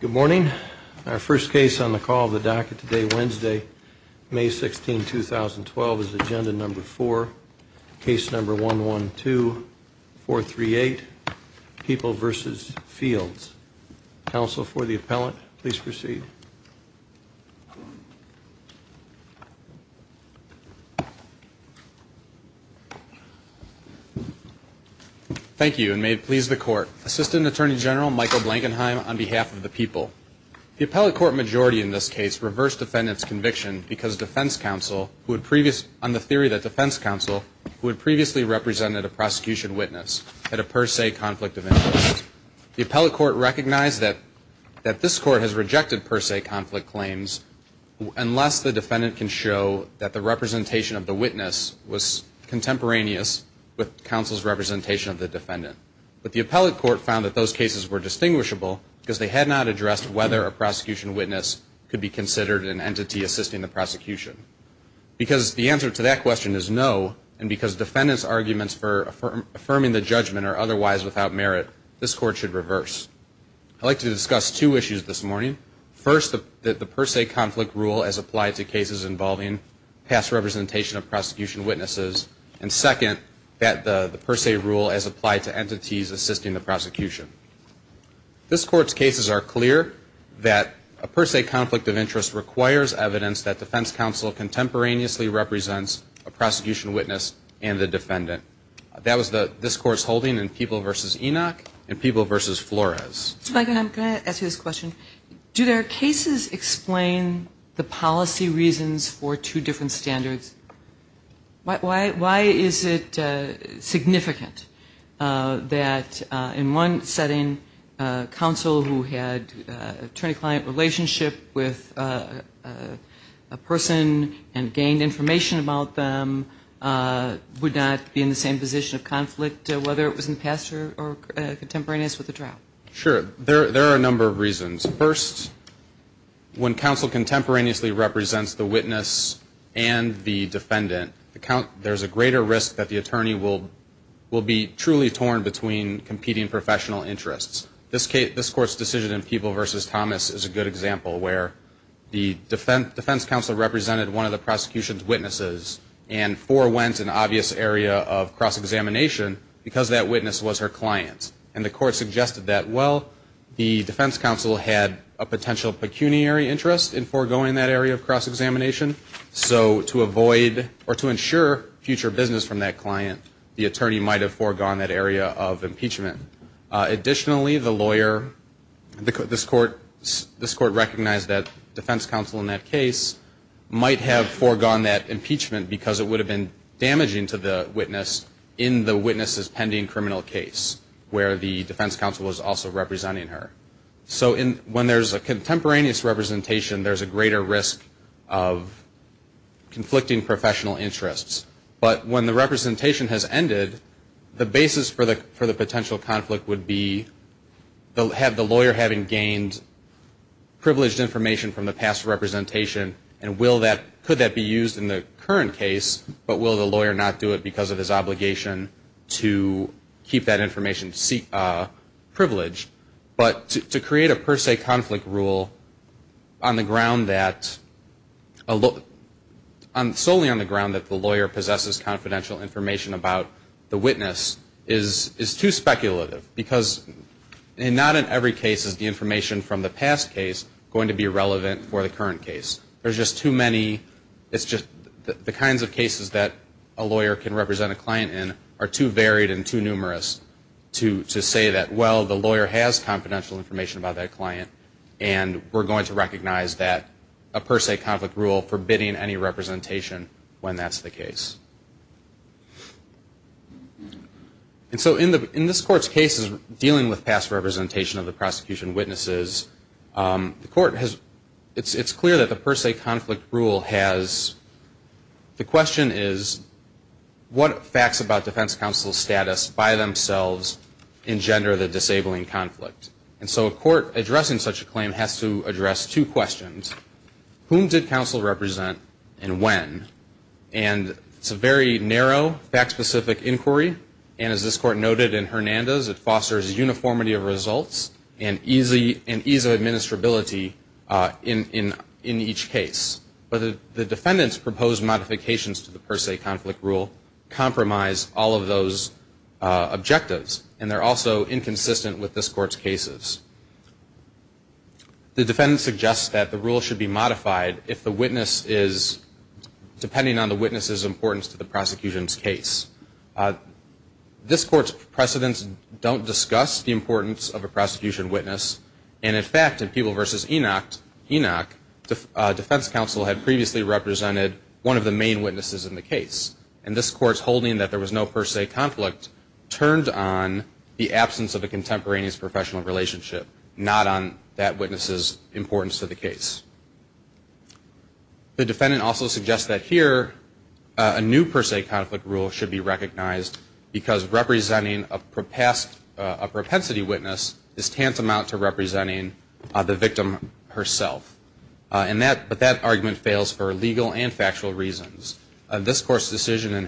Good morning. Our first case on the call of the docket today, Wednesday, May 16, 2012, is agenda number four, case number 112438, People v. Fields. Counsel for the appellant, please proceed. Thank you, and may it please the court. Assistant Attorney General Michael Blankenheim on behalf of the people. The appellate court majority in this case reversed defendant's conviction because defense counsel, on the theory that defense counsel, who had previously represented a prosecution witness, had a per se conflict of interest. The appellate court recognized that this court has rejected per se conflict claims unless the defendant can show that the representation of the witness was contemporaneous with counsel's representation of the defendant. But the appellate court found that those cases were distinguishable because they had not addressed whether a prosecution witness could be considered an entity assisting the prosecution. Because the answer to that question is no, and because defendant's arguments for affirming the judgment are otherwise without merit, this court should reverse. I'd like to discuss two issues this morning. First, that the per se conflict rule as applied to cases involving past representation of prosecution witnesses, and second, that the per se rule as applied to entities assisting the prosecution. This court's cases are clear that a per se conflict of interest requires evidence that defense counsel contemporaneously represents a prosecution witness and the defendant. That was this court's holding in People v. Enoch and People v. Flores. Ms. Blankenheim, can I ask you this question? Do their cases explain the policy reasons for two different standards? Why is it significant that in one setting counsel who had attorney-client relationship with a person and gained information about them would not be in the same position of conflict, whether it was in the past or contemporaneous with the trial? Sure. There are a number of reasons. First, when counsel contemporaneously represents the witness and the defendant, there's a greater risk that the attorney will be truly torn between competing professional interests. This court's decision in People v. Thomas is a good example where the defense counsel represented one of the prosecution's witnesses and forewent an obvious area of cross-examination because that witness was her client. And the court suggested that, well, the defense counsel had a potential pecuniary interest in foregoing that area of impeachment. Additionally, the lawyer, this court recognized that defense counsel in that case might have foregone that impeachment because it would have been damaging to the witness in the witness's pending criminal case where the defense counsel was also representing her. So when there's a contemporaneous representation, there's a greater risk of conflicting professional interests. But when the representation has ended, the basis for the potential conflict would be the lawyer having gained privileged information from the past representation, and could that be used in the current case, but will the lawyer not do it because of his obligation to keep that information privileged? But to create a per se conflict rule on the ground that, solely on the ground that the lawyer possesses confidential information about the witness is too speculative because not in every case is the information from the past case going to be relevant for the current case. There's just too many, it's just the kinds of cases that a lawyer can represent a client in are too varied and too numerous to say that, well, the lawyer has confidential information about that client, and we're going to recognize that a per se conflict rule forbidding any representation when that's the case. And so in this court's cases dealing with past representation of the prosecution witnesses, the court has, it's clear that the per se conflict rule has, the question is, what facts about defense counsel's status by themselves engender the disabling conflict? And so a court addressing such a claim has to address two questions. Whom did counsel represent and when? And it's a very narrow, fact-specific inquiry, and as this court noted in Hernandez, it fosters uniformity of results and ease of administrability in each case. But the defendant's proposed modifications to the per se conflict rule compromise all of those objectives, and they're also inconsistent with this court's cases. The defendant suggests that the rule should be modified if the witness is, depending on the witness's importance to the prosecution's case. This court's precedents don't discuss the importance of a prosecution witness, and in fact, in Peeble v. Enoch, defense counsel had previously represented one of the main witnesses in the case, but they turned on the absence of a contemporaneous professional relationship, not on that witness's importance to the case. The defendant also suggests that here a new per se conflict rule should be recognized because representing a propensity witness is tantamount to representing the victim herself. But that argument fails for legal and factual reasons. This court's decision in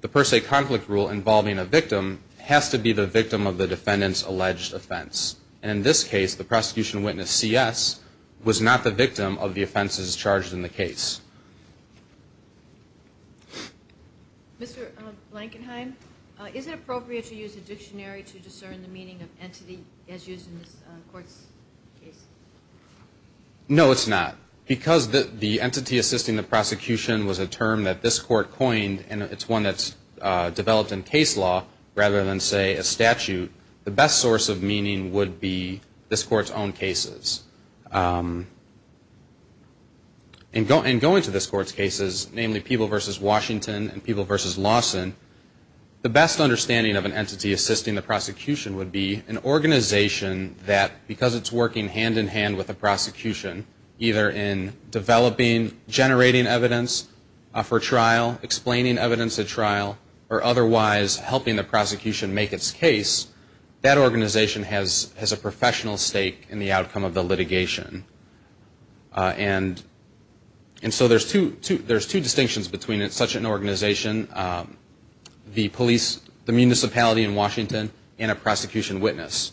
the per se conflict rule involving a victim has to be the victim of the defendant's alleged offense. And in this case, the prosecution witness, C.S., was not the victim of the offenses charged in the case. Mr. Blankenheim, is it appropriate to use a dictionary to discern the meaning of entity as used in this court's case? No, it's not. Because the entity assisting the prosecution was a term that this court coined, and it's one that's developed in case law rather than, say, a statute, the best source of meaning would be this court's own cases. In going to this court's cases, namely Peeble v. Washington and Peeble v. Lawson, the best understanding of an entity associated with a prosecution, either in developing, generating evidence for trial, explaining evidence at trial, or otherwise helping the prosecution make its case, that organization has a professional stake in the outcome of the litigation. And so there's two distinctions between such an organization, the police, the municipality in Washington, and a prosecution witness.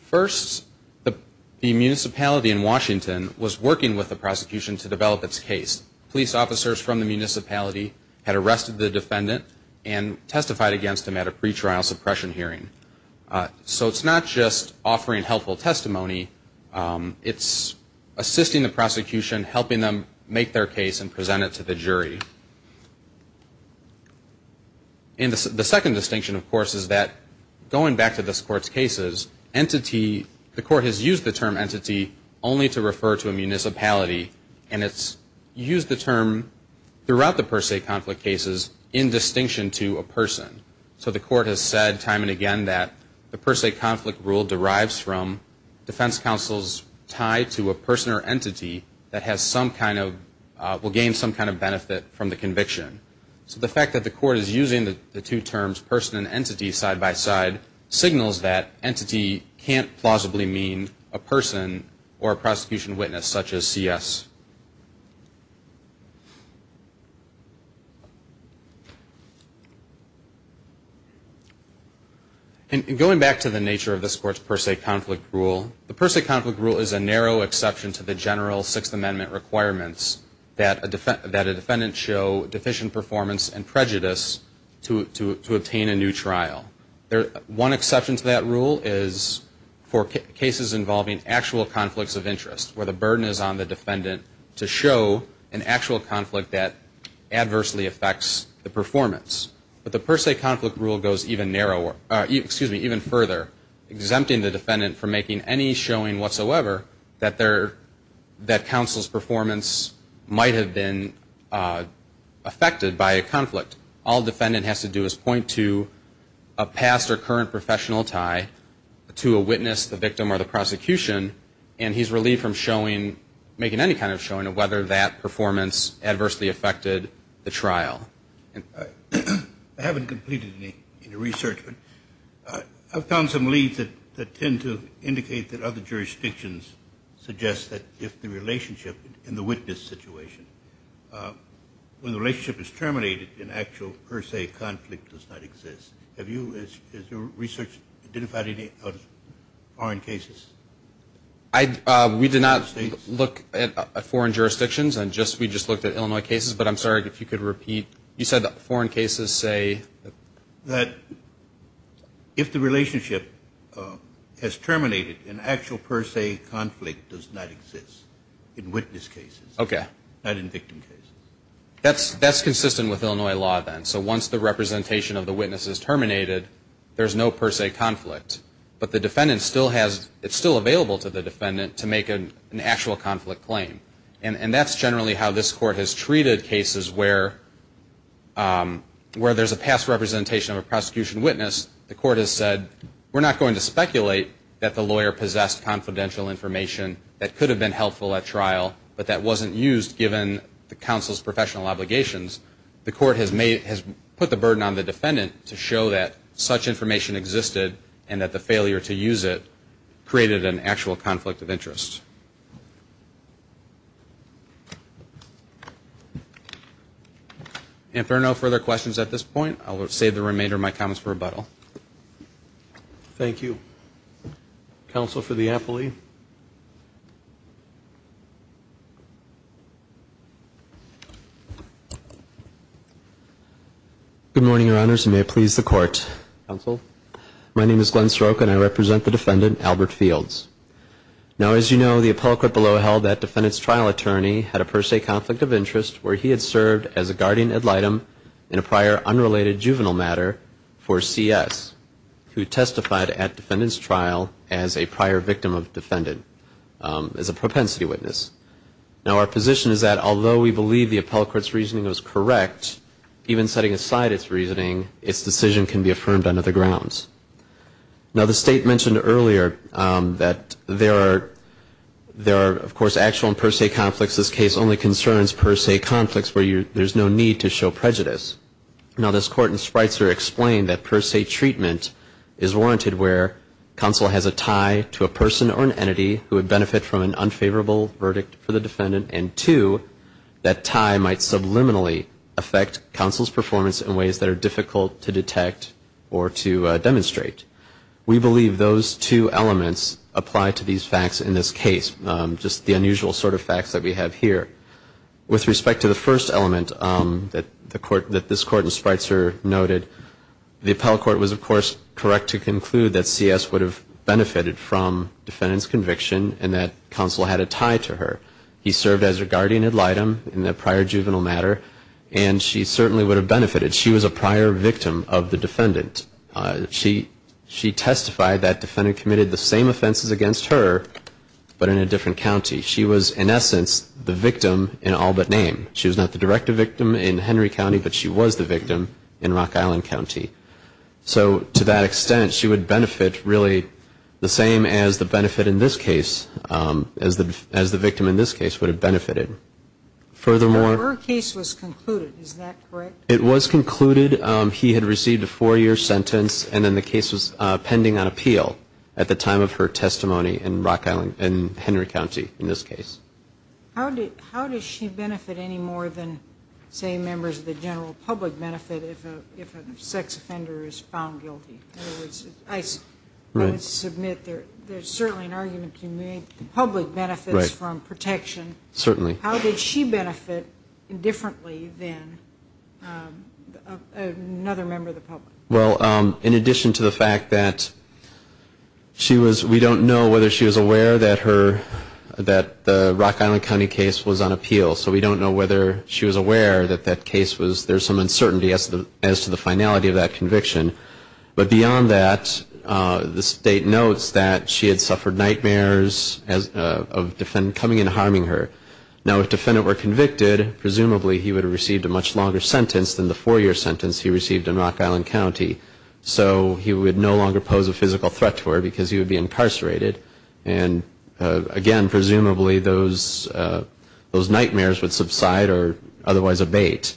First, the municipality in Washington was working with the prosecution to develop its case. Police officers from the municipality had arrested the defendant and testified against him at a pretrial suppression hearing. So it's not just offering helpful testimony, it's assisting the prosecution, helping them make their case and present it to the jury. And the second distinction, of course, is that going back to this court's cases, entity, the court has used the term entity only to refer to a municipality, and it's used the term throughout the per se conflict cases in distinction to a person. So the court has said time and again that the per se conflict rule derives from defense counsel's tie to a person or entity that has some kind of, will gain some kind of benefit from the conviction. So the fact that the court is using the two terms, person and entity side by side, signals that entity can't plausibly mean a person or a prosecution witness, such as C.S. And going back to the nature of this court's per se conflict rule, the per se conflict rule is a narrow exception to the General Sixth Amendment requirements that a defendant show deficient performance and prejudice to obtain a new trial. One exception to that rule is for cases involving actual conflicts of interest, where the burden is on the defendant to show an actual conflict that adversely affects the performance. But the per se conflict rule goes even narrower, excuse me, even further, exempting the defendant from making any showing whatsoever that counsel's performance might have been affected by a conflict. All defendant has to do is point to a past or current professional tie to a witness, the victim, or the prosecution, and he's relieved from showing, making any kind of showing of whether that performance adversely affected the trial. I haven't completed any research, but I've found some leads that tend to indicate that other jurisdictions suggest that if the relationship in the witness situation, when the relationship is terminated, an actual per se conflict does not exist. Have you, has your research identified any foreign cases? I, we did not look at foreign jurisdictions. We just looked at Illinois cases, but I'm sorry if you could repeat that. You said foreign cases say? That if the relationship has terminated, an actual per se conflict does not exist in witness cases. Okay. Not in victim cases. That's consistent with Illinois law then. So once the representation of the witness is terminated, there's no per se conflict. But the court has said, where there's a past representation of a prosecution witness, the court has said, we're not going to speculate that the lawyer possessed confidential information that could have been helpful at trial, but that wasn't used given the counsel's professional obligations. The court has made, has put the burden on the defendant to show that such information existed and that the failure to use it created an actual conflict of interest. And if there are no further questions at this point, I will save the remainder of my comments for rebuttal. Thank you. Counsel for the appellee. Good morning, your honors, and may it please the court. Now as you know, the appellate below held that defendant's trial attorney had a per se conflict of interest where he had served as a guardian ad litem in a prior unrelated juvenile matter for CS, who testified at defendant's trial as a prior victim of defendant, as a propensity witness. Now our position is that although we believe the appellate's reasoning was correct, even setting aside its reasoning, its decision can be affirmed under the grounds. Now the state mentioned earlier that there are of course actual and per se conflicts. This case only concerns per se conflicts where there's no need to show prejudice. Now this court in Spreitzer explained that per se treatment is warranted where counsel has a tie to a person or an entity who would benefit from an unfavorable verdict for the defendant, and two, that tie might subliminally affect counsel's performance in ways that are difficult to detect or to demonstrate. We believe those two elements apply to these facts in this case, just the unusual sort of facts that we have here. With respect to the first element that this court in Spreitzer noted, the appellate court was of course correct to conclude that CS would have benefited from defendant's conviction and that counsel had a tie to her. He served as a guardian ad litem in a prior juvenile matter, and she certainly would have benefited. She was a prior victim of the defendant. She testified that defendant committed the same offenses against her, but in a different way. She was a victim in all but name. She was not the direct victim in Henry County, but she was the victim in Rock Island County. So to that extent, she would benefit really the same as the benefit in this case, as the victim in this case would have benefited. Furthermore, it was concluded he had received a four-year sentence, and then the case was pending on appeal at the time of her conviction, and she was not the direct victim in Henry County in this case. How does she benefit any more than, say, members of the general public benefit if a sex offender is found guilty? I would submit there's certainly an argument to make the public benefits from protection. Certainly. How did she benefit differently than another member of the public? Well, in addition to the fact that she was, we don't know whether she was aware that her, that the Rock Island County case was on appeal. So we don't know whether she was aware that that case was, there's some uncertainty as to the finality of that conviction. But beyond that, the state notes that she had suffered nightmares of the defendant coming and harming her. Now, if the defendant were convicted, presumably he would have received a much longer sentence than the four-year sentence he received in Henry County. So he would no longer pose a physical threat to her because he would be incarcerated. And, again, presumably those nightmares would subside or otherwise abate.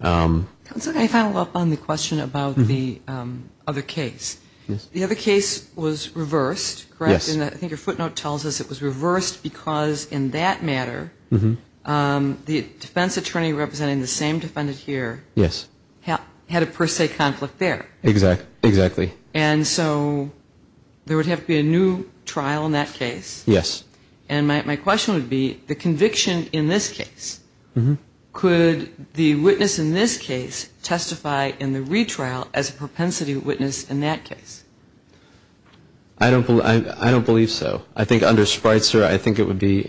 Can I follow up on the question about the other case? Yes. The other case was reversed, correct? Yes. I think your footnote tells us it was reversed because in that matter the defense attorney representing the same defendant here had a per se conflict there. Exactly. And so there would have to be a new trial in that case. Yes. And my question would be, the conviction in this case, could the witness in this case testify in the retrial as a propensity witness in that case? I don't believe so. I think under Spreitzer, I think it would be,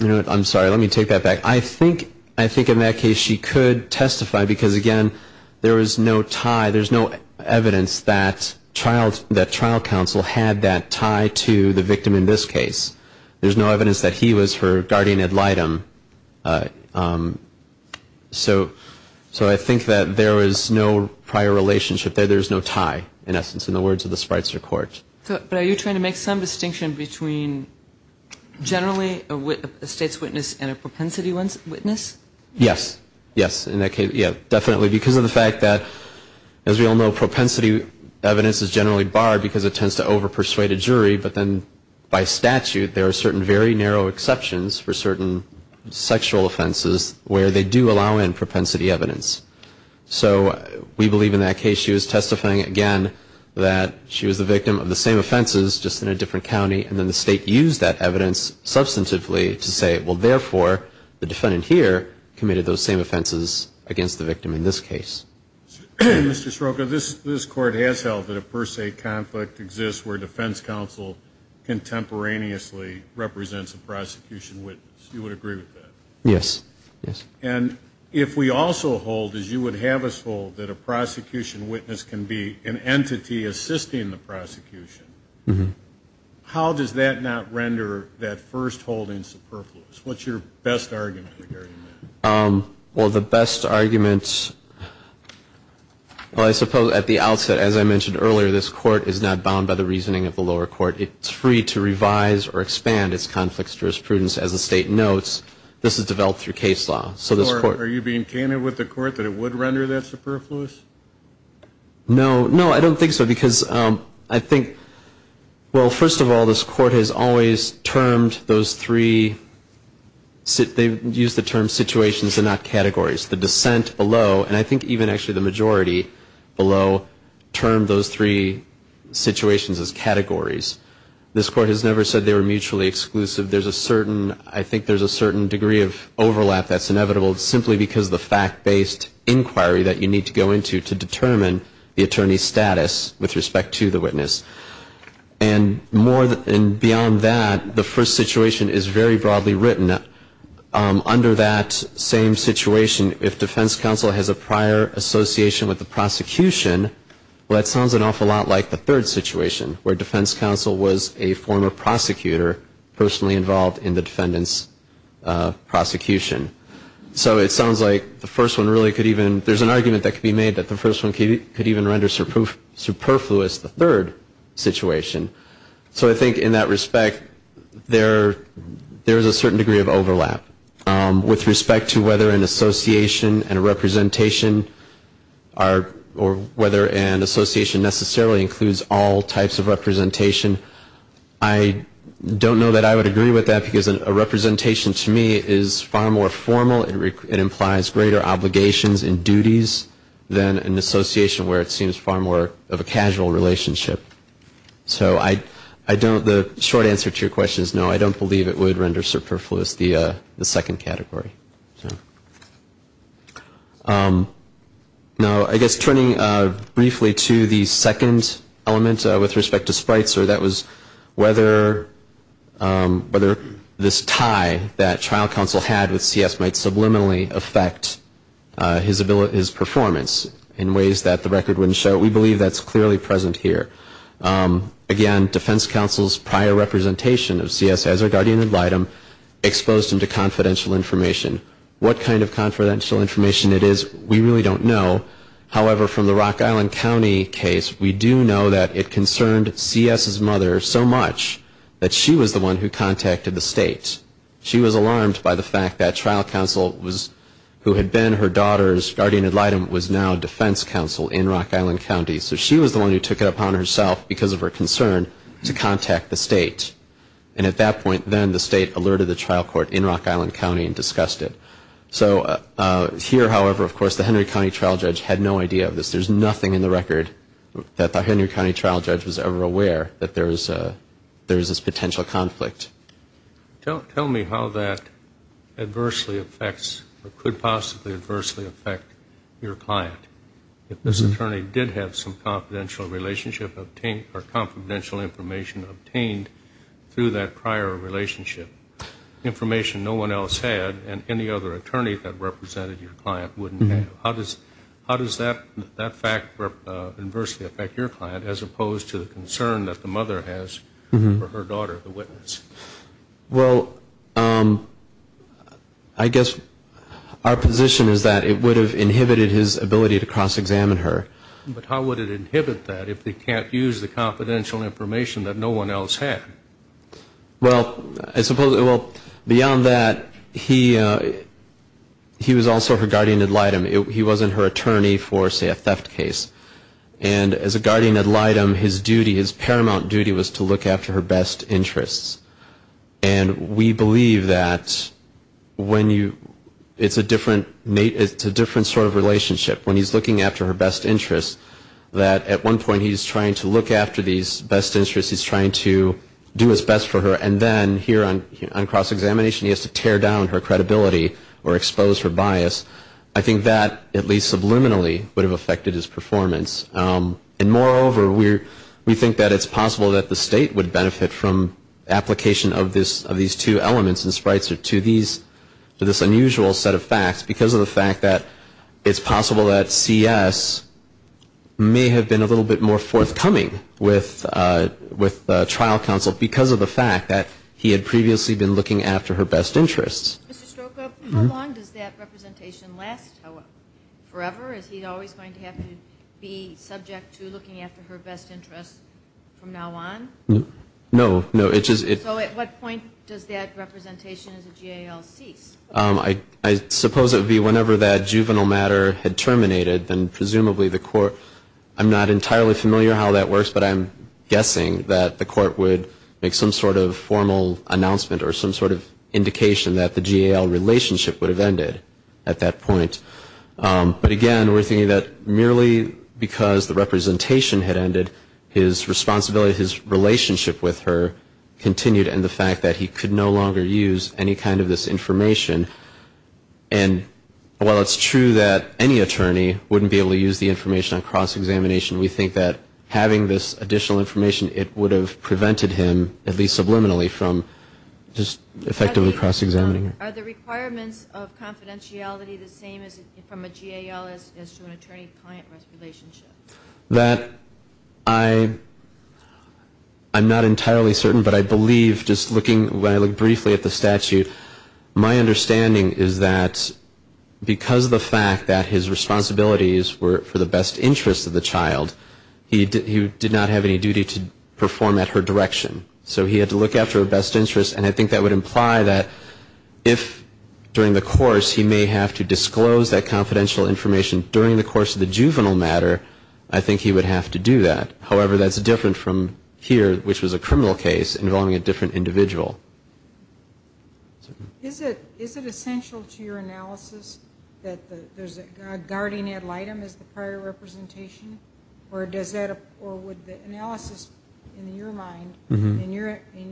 I'm sorry, let me take that back. I think in that case she could testify because, again, there was no tie, there's no evidence that trial counsel had that tie to the victim in this case. There's no evidence that he was her guardian ad litem. So I think that there is no prior relationship there. There's no tie, in essence, in the words of the Spreitzer court. But are you trying to make some distinction between generally a state's witness and a propensity witness? Yes. Yes. In that case, yes, definitely. Because of the fact that, as we all know, propensity evidence is generally barred because it tends to over-persuade a jury. But then by statute, there are certain very narrow exceptions for certain sexual offenses where they do allow in propensity evidence. So we believe in that case she was testifying, again, that she was the victim of the same offenses, just in a different county, and then the state used that evidence substantively to say, well, therefore, the defendant here committed those same offenses against the victim in this case. Mr. Sroka, this Court has held that a per se conflict exists where defense counsel contemporaneously represents a prosecution witness. You would agree with that? Yes. Yes. And if we also hold, as you would have us hold, that a prosecution witness can be an entity assisting the prosecution, how does that not render that first holding superfluous? What's your best argument regarding that? Well, I suppose at the outset, as I mentioned earlier, this Court is not bound by the reasoning of the lower court. It's free to revise or expand its conflicts jurisprudence. As the state notes, this is developed through case law. So this Court Are you being candid with the Court that it would render that superfluous? No. No, I don't think so. Because I think, well, first of all, this Court has always termed those three, they use the term situations and not categories. The dissent below, and I think even actually the majority below, termed those three situations as categories. This Court has never said they were mutually exclusive. There's a certain, I think there's a certain degree of overlap that's inevitable simply because of the fact-based inquiry that you need to go into to determine the attorney's status with respect to the witness. And more than, and beyond that, the first situation is very broadly written. And under that same situation, if defense counsel has a prior association with the prosecution, well, that sounds an awful lot like the third situation, where defense counsel was a former prosecutor personally involved in the defendant's prosecution. So it sounds like the first one really could even, there's an argument that could be made that the first one could even render superfluous the third situation. So I think in that respect, there is a certain degree of overlap. With respect to whether an association and a representation are, or whether an association necessarily includes all types of representation, I don't know that I would agree with that, because a representation to me is far more formal. It implies greater obligations and duties than an association, where it seems far more of a casual relationship. So I don't, the short answer to your question is no, I don't believe it would render superfluous the second category. Now, I guess turning briefly to the second element with respect to sprites, or that was whether this tie that trial counsel had with CS might subliminally affect his performance in ways that the record wouldn't show. But we believe that's clearly present here. Again, defense counsel's prior representation of CS as a guardian ad litem exposed him to confidential information. What kind of confidential information it is, we really don't know. However, from the Rock Island County case, we do know that it concerned CS's mother so much that she was the one who contacted the state. She was alarmed by the fact that trial counsel who had been her daughter's guardian ad litem was now defense counsel in Rock Island County, so she was the one who took it upon herself, because of her concern, to contact the state. And at that point, then, the state alerted the trial court in Rock Island County and discussed it. Here, however, of course, the Henry County trial judge had no idea of this. There's nothing in the record that the Henry County trial judge was ever aware that there was this potential conflict. Tell me how that adversely affects or could possibly adversely affect your client. If this attorney did have some confidential relationship or confidential information obtained through that prior relationship, information no one else had and any other attorney that represented your client wouldn't have. How does that fact adversely affect your client as opposed to the concern that the mother has for her daughter, the guardian ad litem? I guess our position is that it would have inhibited his ability to cross-examine her. But how would it inhibit that if they can't use the confidential information that no one else had? Well, beyond that, he was also her guardian ad litem. He wasn't her attorney for, say, a theft case. And as a guardian ad litem, he was looking for her best interests. And we believe that when you, it's a different, it's a different sort of relationship. When he's looking after her best interests, that at one point he's trying to look after these best interests, he's trying to do his best for her, and then here on cross-examination he has to tear down her credibility or expose her bias. I think that, at least subliminally, would have affected his performance. And moreover, we're, we think that it's possible that the State would benefit from application of this, of these two elements and sprites or to these, to this unusual set of facts because of the fact that it's possible that C.S. may have been a little bit more forthcoming with, with trial counsel because of the fact that he had previously been looking after her best interests. Ms. Strzoka, how long does that representation last, however? Forever? Is he always going to have to be subject to looking after her best interests from now on? No, no, it's just, it's... So at what point does that representation as a GAL cease? I, I suppose it would be whenever that juvenile matter had terminated, then presumably the court, I'm not entirely familiar how that works, but I'm guessing that the court would make some sort of formal announcement or some sort of indication that the GAL relationship would have ended at that point. But again, we're thinking that merely because the representation had ended, his responsibility, his relationship with her continued and the fact that he could no longer use any kind of this information. And while it's true that any attorney wouldn't be able to use the information on cross-examination, we think that having this additional information, it would have prevented him, at least subliminally, from just effectively cross-examining her. Are the requirements of confidentiality the same from a GAL as to an attorney-client relationship? That I, I'm not entirely certain, but I believe just looking, when I look briefly at the statute, my understanding is that because of the fact that his responsibilities were for the best interest of the child, he did not have to have any duty to perform at her direction. So he had to look after her best interest, and I think that would imply that if during the course he may have to disclose that confidential information during the course of the juvenile matter, I think he would have to do that. However, that's different from here, which was a criminal case involving a different individual. Is it, is it essential to your analysis that there's a guardian ad litem as the prior representation, or does that apply to her, or would the analysis in your mind, in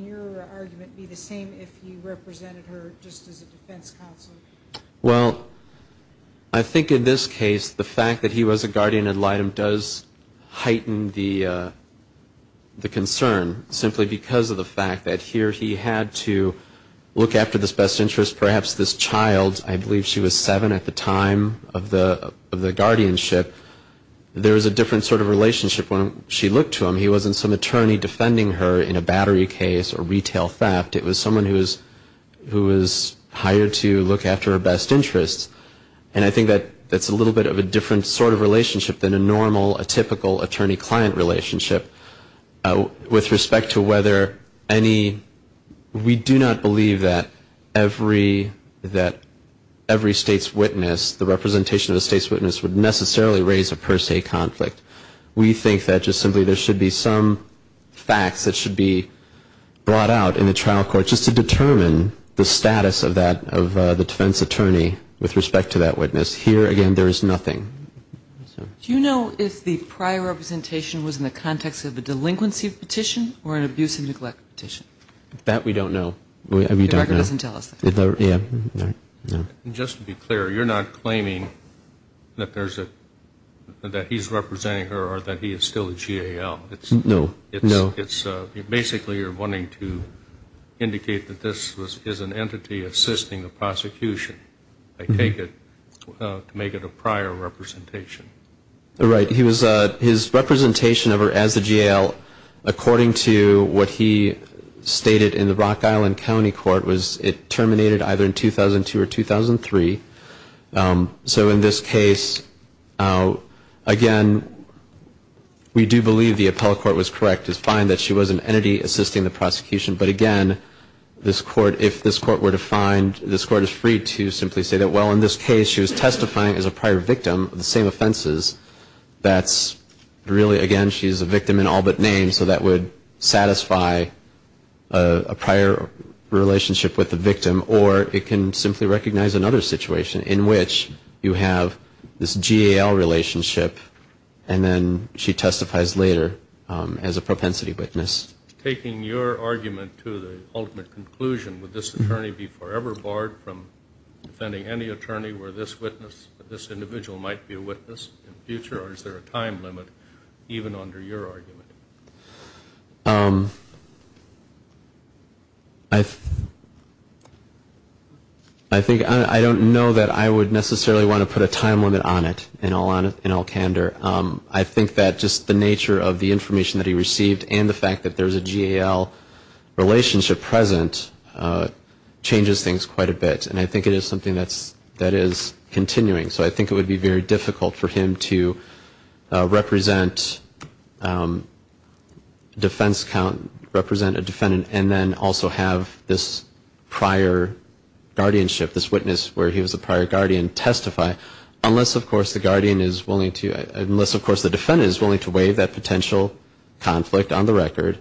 your argument, be the same if he represented her just as a defense counsel? Well, I think in this case, the fact that he was a guardian ad litem does heighten the, the concern, simply because of the fact that here he had to look after this best interest, perhaps this child, I believe she was seven at the time of the guardianship, there was a different sort of relationship when she looked to him. He wasn't some attorney defending her in a battery case or retail theft. It was someone who was, who was hired to look after her best interest. And I think that's a little bit of a different sort of relationship than a normal, a typical attorney-client relationship with respect to whether any, we do not believe that every, that every state's witness, the representation of a state's witness would be the same. It doesn't necessarily raise a per se conflict. We think that just simply there should be some facts that should be brought out in the trial court just to determine the status of that, of the defense attorney with respect to that witness. Here, again, there is nothing. Do you know if the prior representation was in the context of a delinquency petition or an abuse and neglect petition? That we don't know. We don't know. It doesn't tell us that. Just to be clear, you're not claiming that there's a, that he's representing her or that he is still a GAL. No, no. It's basically you're wanting to indicate that this is an entity assisting the prosecution, I take it, to make it a prior representation. Right. He was, his representation of her as a GAL, according to what he stated in the Rock Island County Court, was in the context of a delinquency petition. It terminated either in 2002 or 2003. So in this case, again, we do believe the appellate court was correct. It's fine that she was an entity assisting the prosecution, but again, this court, if this court were to find, this court is free to simply say that, well, in this case, she was testifying as a prior victim of the same offenses. That's really, again, she's a victim in all but name, so that would satisfy a prior relationship with the victim. Or it can simply recognize another situation in which you have this GAL relationship and then she testifies later as a propensity witness. Taking your argument to the ultimate conclusion, would this attorney be forever barred from defending any attorney where this witness, this individual might be a witness in the future, or is there a time limit even under your argument? I think I don't know that I would necessarily want to put a time limit on it in all candor. I think that just the nature of the information that he received and the fact that there's a GAL relationship present changes things quite a bit. And I think it is something that is continuing. So I think it would be very difficult for him to represent, you know, the GAL relationship in defense count, represent a defendant, and then also have this prior guardianship, this witness where he was a prior guardian testify, unless, of course, the guardian is willing to, unless, of course, the defendant is willing to waive that potential conflict on the record.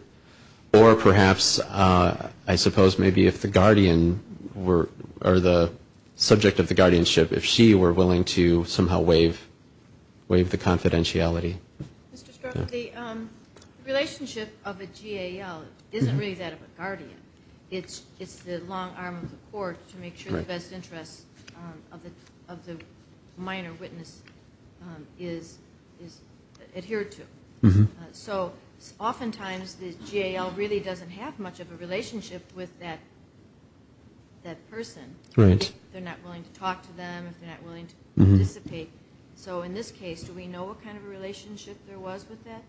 Or perhaps, I suppose, maybe if the guardian were, or the subject of the guardianship, if she were willing to somehow waive the confidentiality. The relationship of a GAL isn't really that of a guardian. It's the long arm of the court to make sure the best interest of the minor witness is adhered to. So oftentimes the GAL really doesn't have much of a relationship with that person, if they're not willing to talk to them, if they're not willing to participate. So in this case, do we know what kind of a relationship there was with that,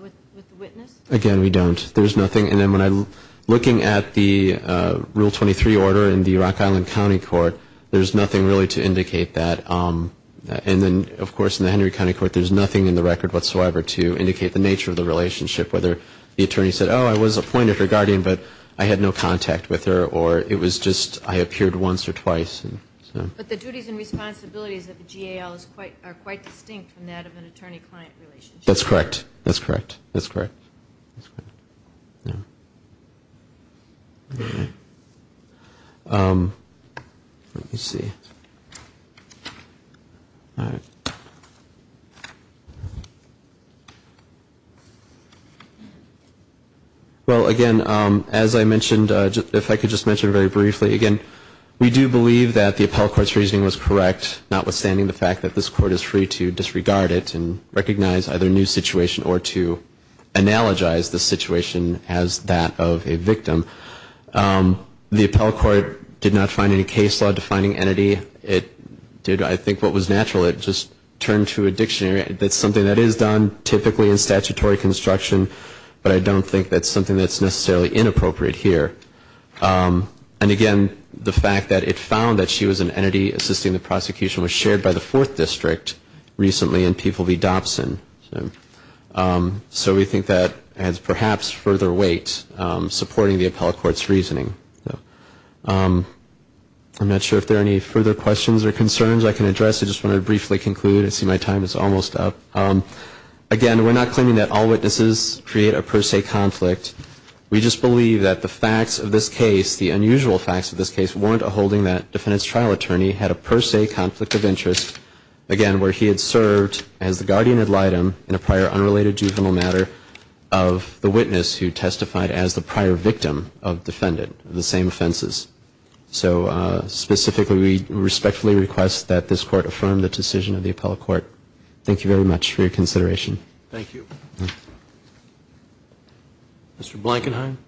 with the witness? Again, we don't. There's nothing. And then when I'm looking at the Rule 23 order in the Rock Island County Court, there's nothing really to indicate that. And then, of course, in the Henry County Court, there's nothing in the record whatsoever to indicate the nature of the relationship, whether the attorney said, oh, I was appointed a guardian, but I had no contact with her, or it was just I appeared once or twice. But the duties and responsibilities of the GAL are quite distinct from that of an attorney-client relationship. That's correct. That's correct. That's correct. Let me see. All right. Well, again, as I mentioned, if I could just mention very briefly, again, we do believe that the appellate court's reasoning was correct, notwithstanding the fact that this court is free to disregard it and recognize either a new situation or to analogize the situation as that of a victim. The appellate court did not find any case law defining entity. It did, I think, what was natural. It just turned to a dictionary. That's something that is done, typically, in statutory construction, but I don't think that's something that's necessarily inappropriate here. And, again, the fact that it found that she was an entity assisting the prosecution was shared by the Fourth District recently in People v. Dobson. So we think that adds perhaps further weight supporting the appellate court's reasoning. I'm not sure if there are any further questions or concerns I can address. I just want to briefly conclude. I see my time is almost up. Again, we're not claiming that all witnesses create a per se conflict. We just believe that the facts of this case, the unusual facts of this case, warrant a holding that defendant's trial attorney had a per se victim in a prior unrelated juvenile matter of the witness who testified as the prior victim of defendant of the same offenses. So specifically, we respectfully request that this court affirm the decision of the appellate court. Thank you very much for your consideration. Mr. Blankenheim.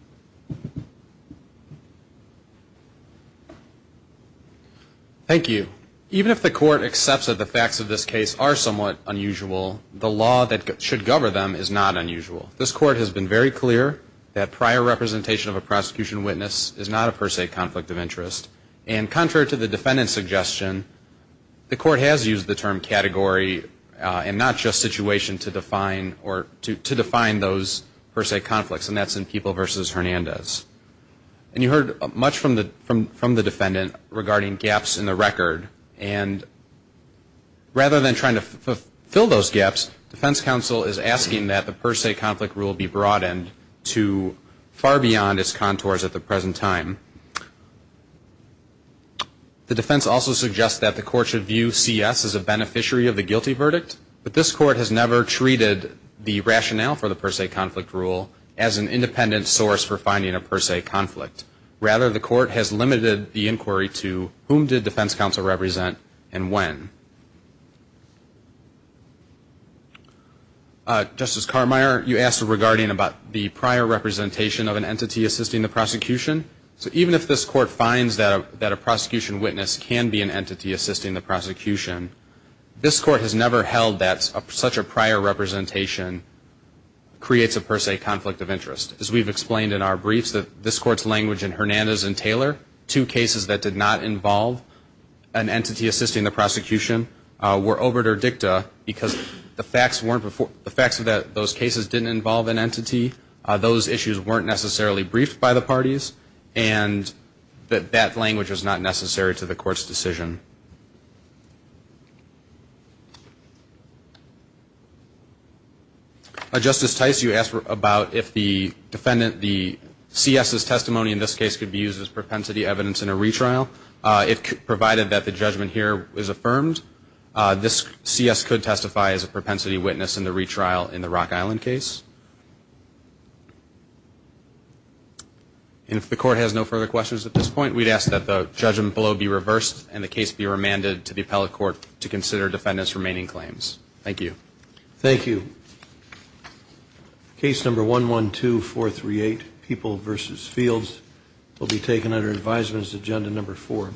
Thank you. Even if the court accepts that the facts of this case are somewhat unusual, the law that should govern them is not unusual. This court has been very clear that prior representation of a prosecution witness is not a per se conflict of interest. And contrary to the defendant's suggestion, the court has used the term category and not just situation to define those per se conflicts as Hernandez. And you heard much from the defendant regarding gaps in the record. And rather than trying to fill those gaps, defense counsel is asking that the per se conflict rule be broadened to far beyond its contours at the present time. The defense also suggests that the court should view C.S. as a beneficiary of the guilty verdict, but this court has never treated the rationale for the per se conflict rule as an independent source for finding a per se conflict. Rather, the court has limited the inquiry to whom did defense counsel represent and when. Justice Carmire, you asked regarding about the prior representation of an entity assisting the prosecution. So even if this court finds that a prosecution witness can be an entity assisting the prosecution, this court has never held that such a prior representation creates a per se conflict of interest. As we've explained in our briefs, this court's language in Hernandez and Taylor, two cases that did not involve an entity assisting the prosecution, were obiter dicta because the facts of those cases didn't involve an entity, those issues weren't necessarily briefed by the parties, and that that language was not necessary to the court's decision. Justice Tice, you asked about if the defendant, the C.S.'s testimony in this case could be used as propensity evidence in a retrial. If provided that the judgment here is affirmed, this C.S. could testify as a propensity witness in the retrial in the Rock Island case. And if the court has no further questions at this point, we'd ask that the judgment below be reversed and the case be remanded to the appellate office so this court might recommend inferring from the company claims. Thank you. Case number 11438, People v. Fields, will be taken under advisement as Agenda number four.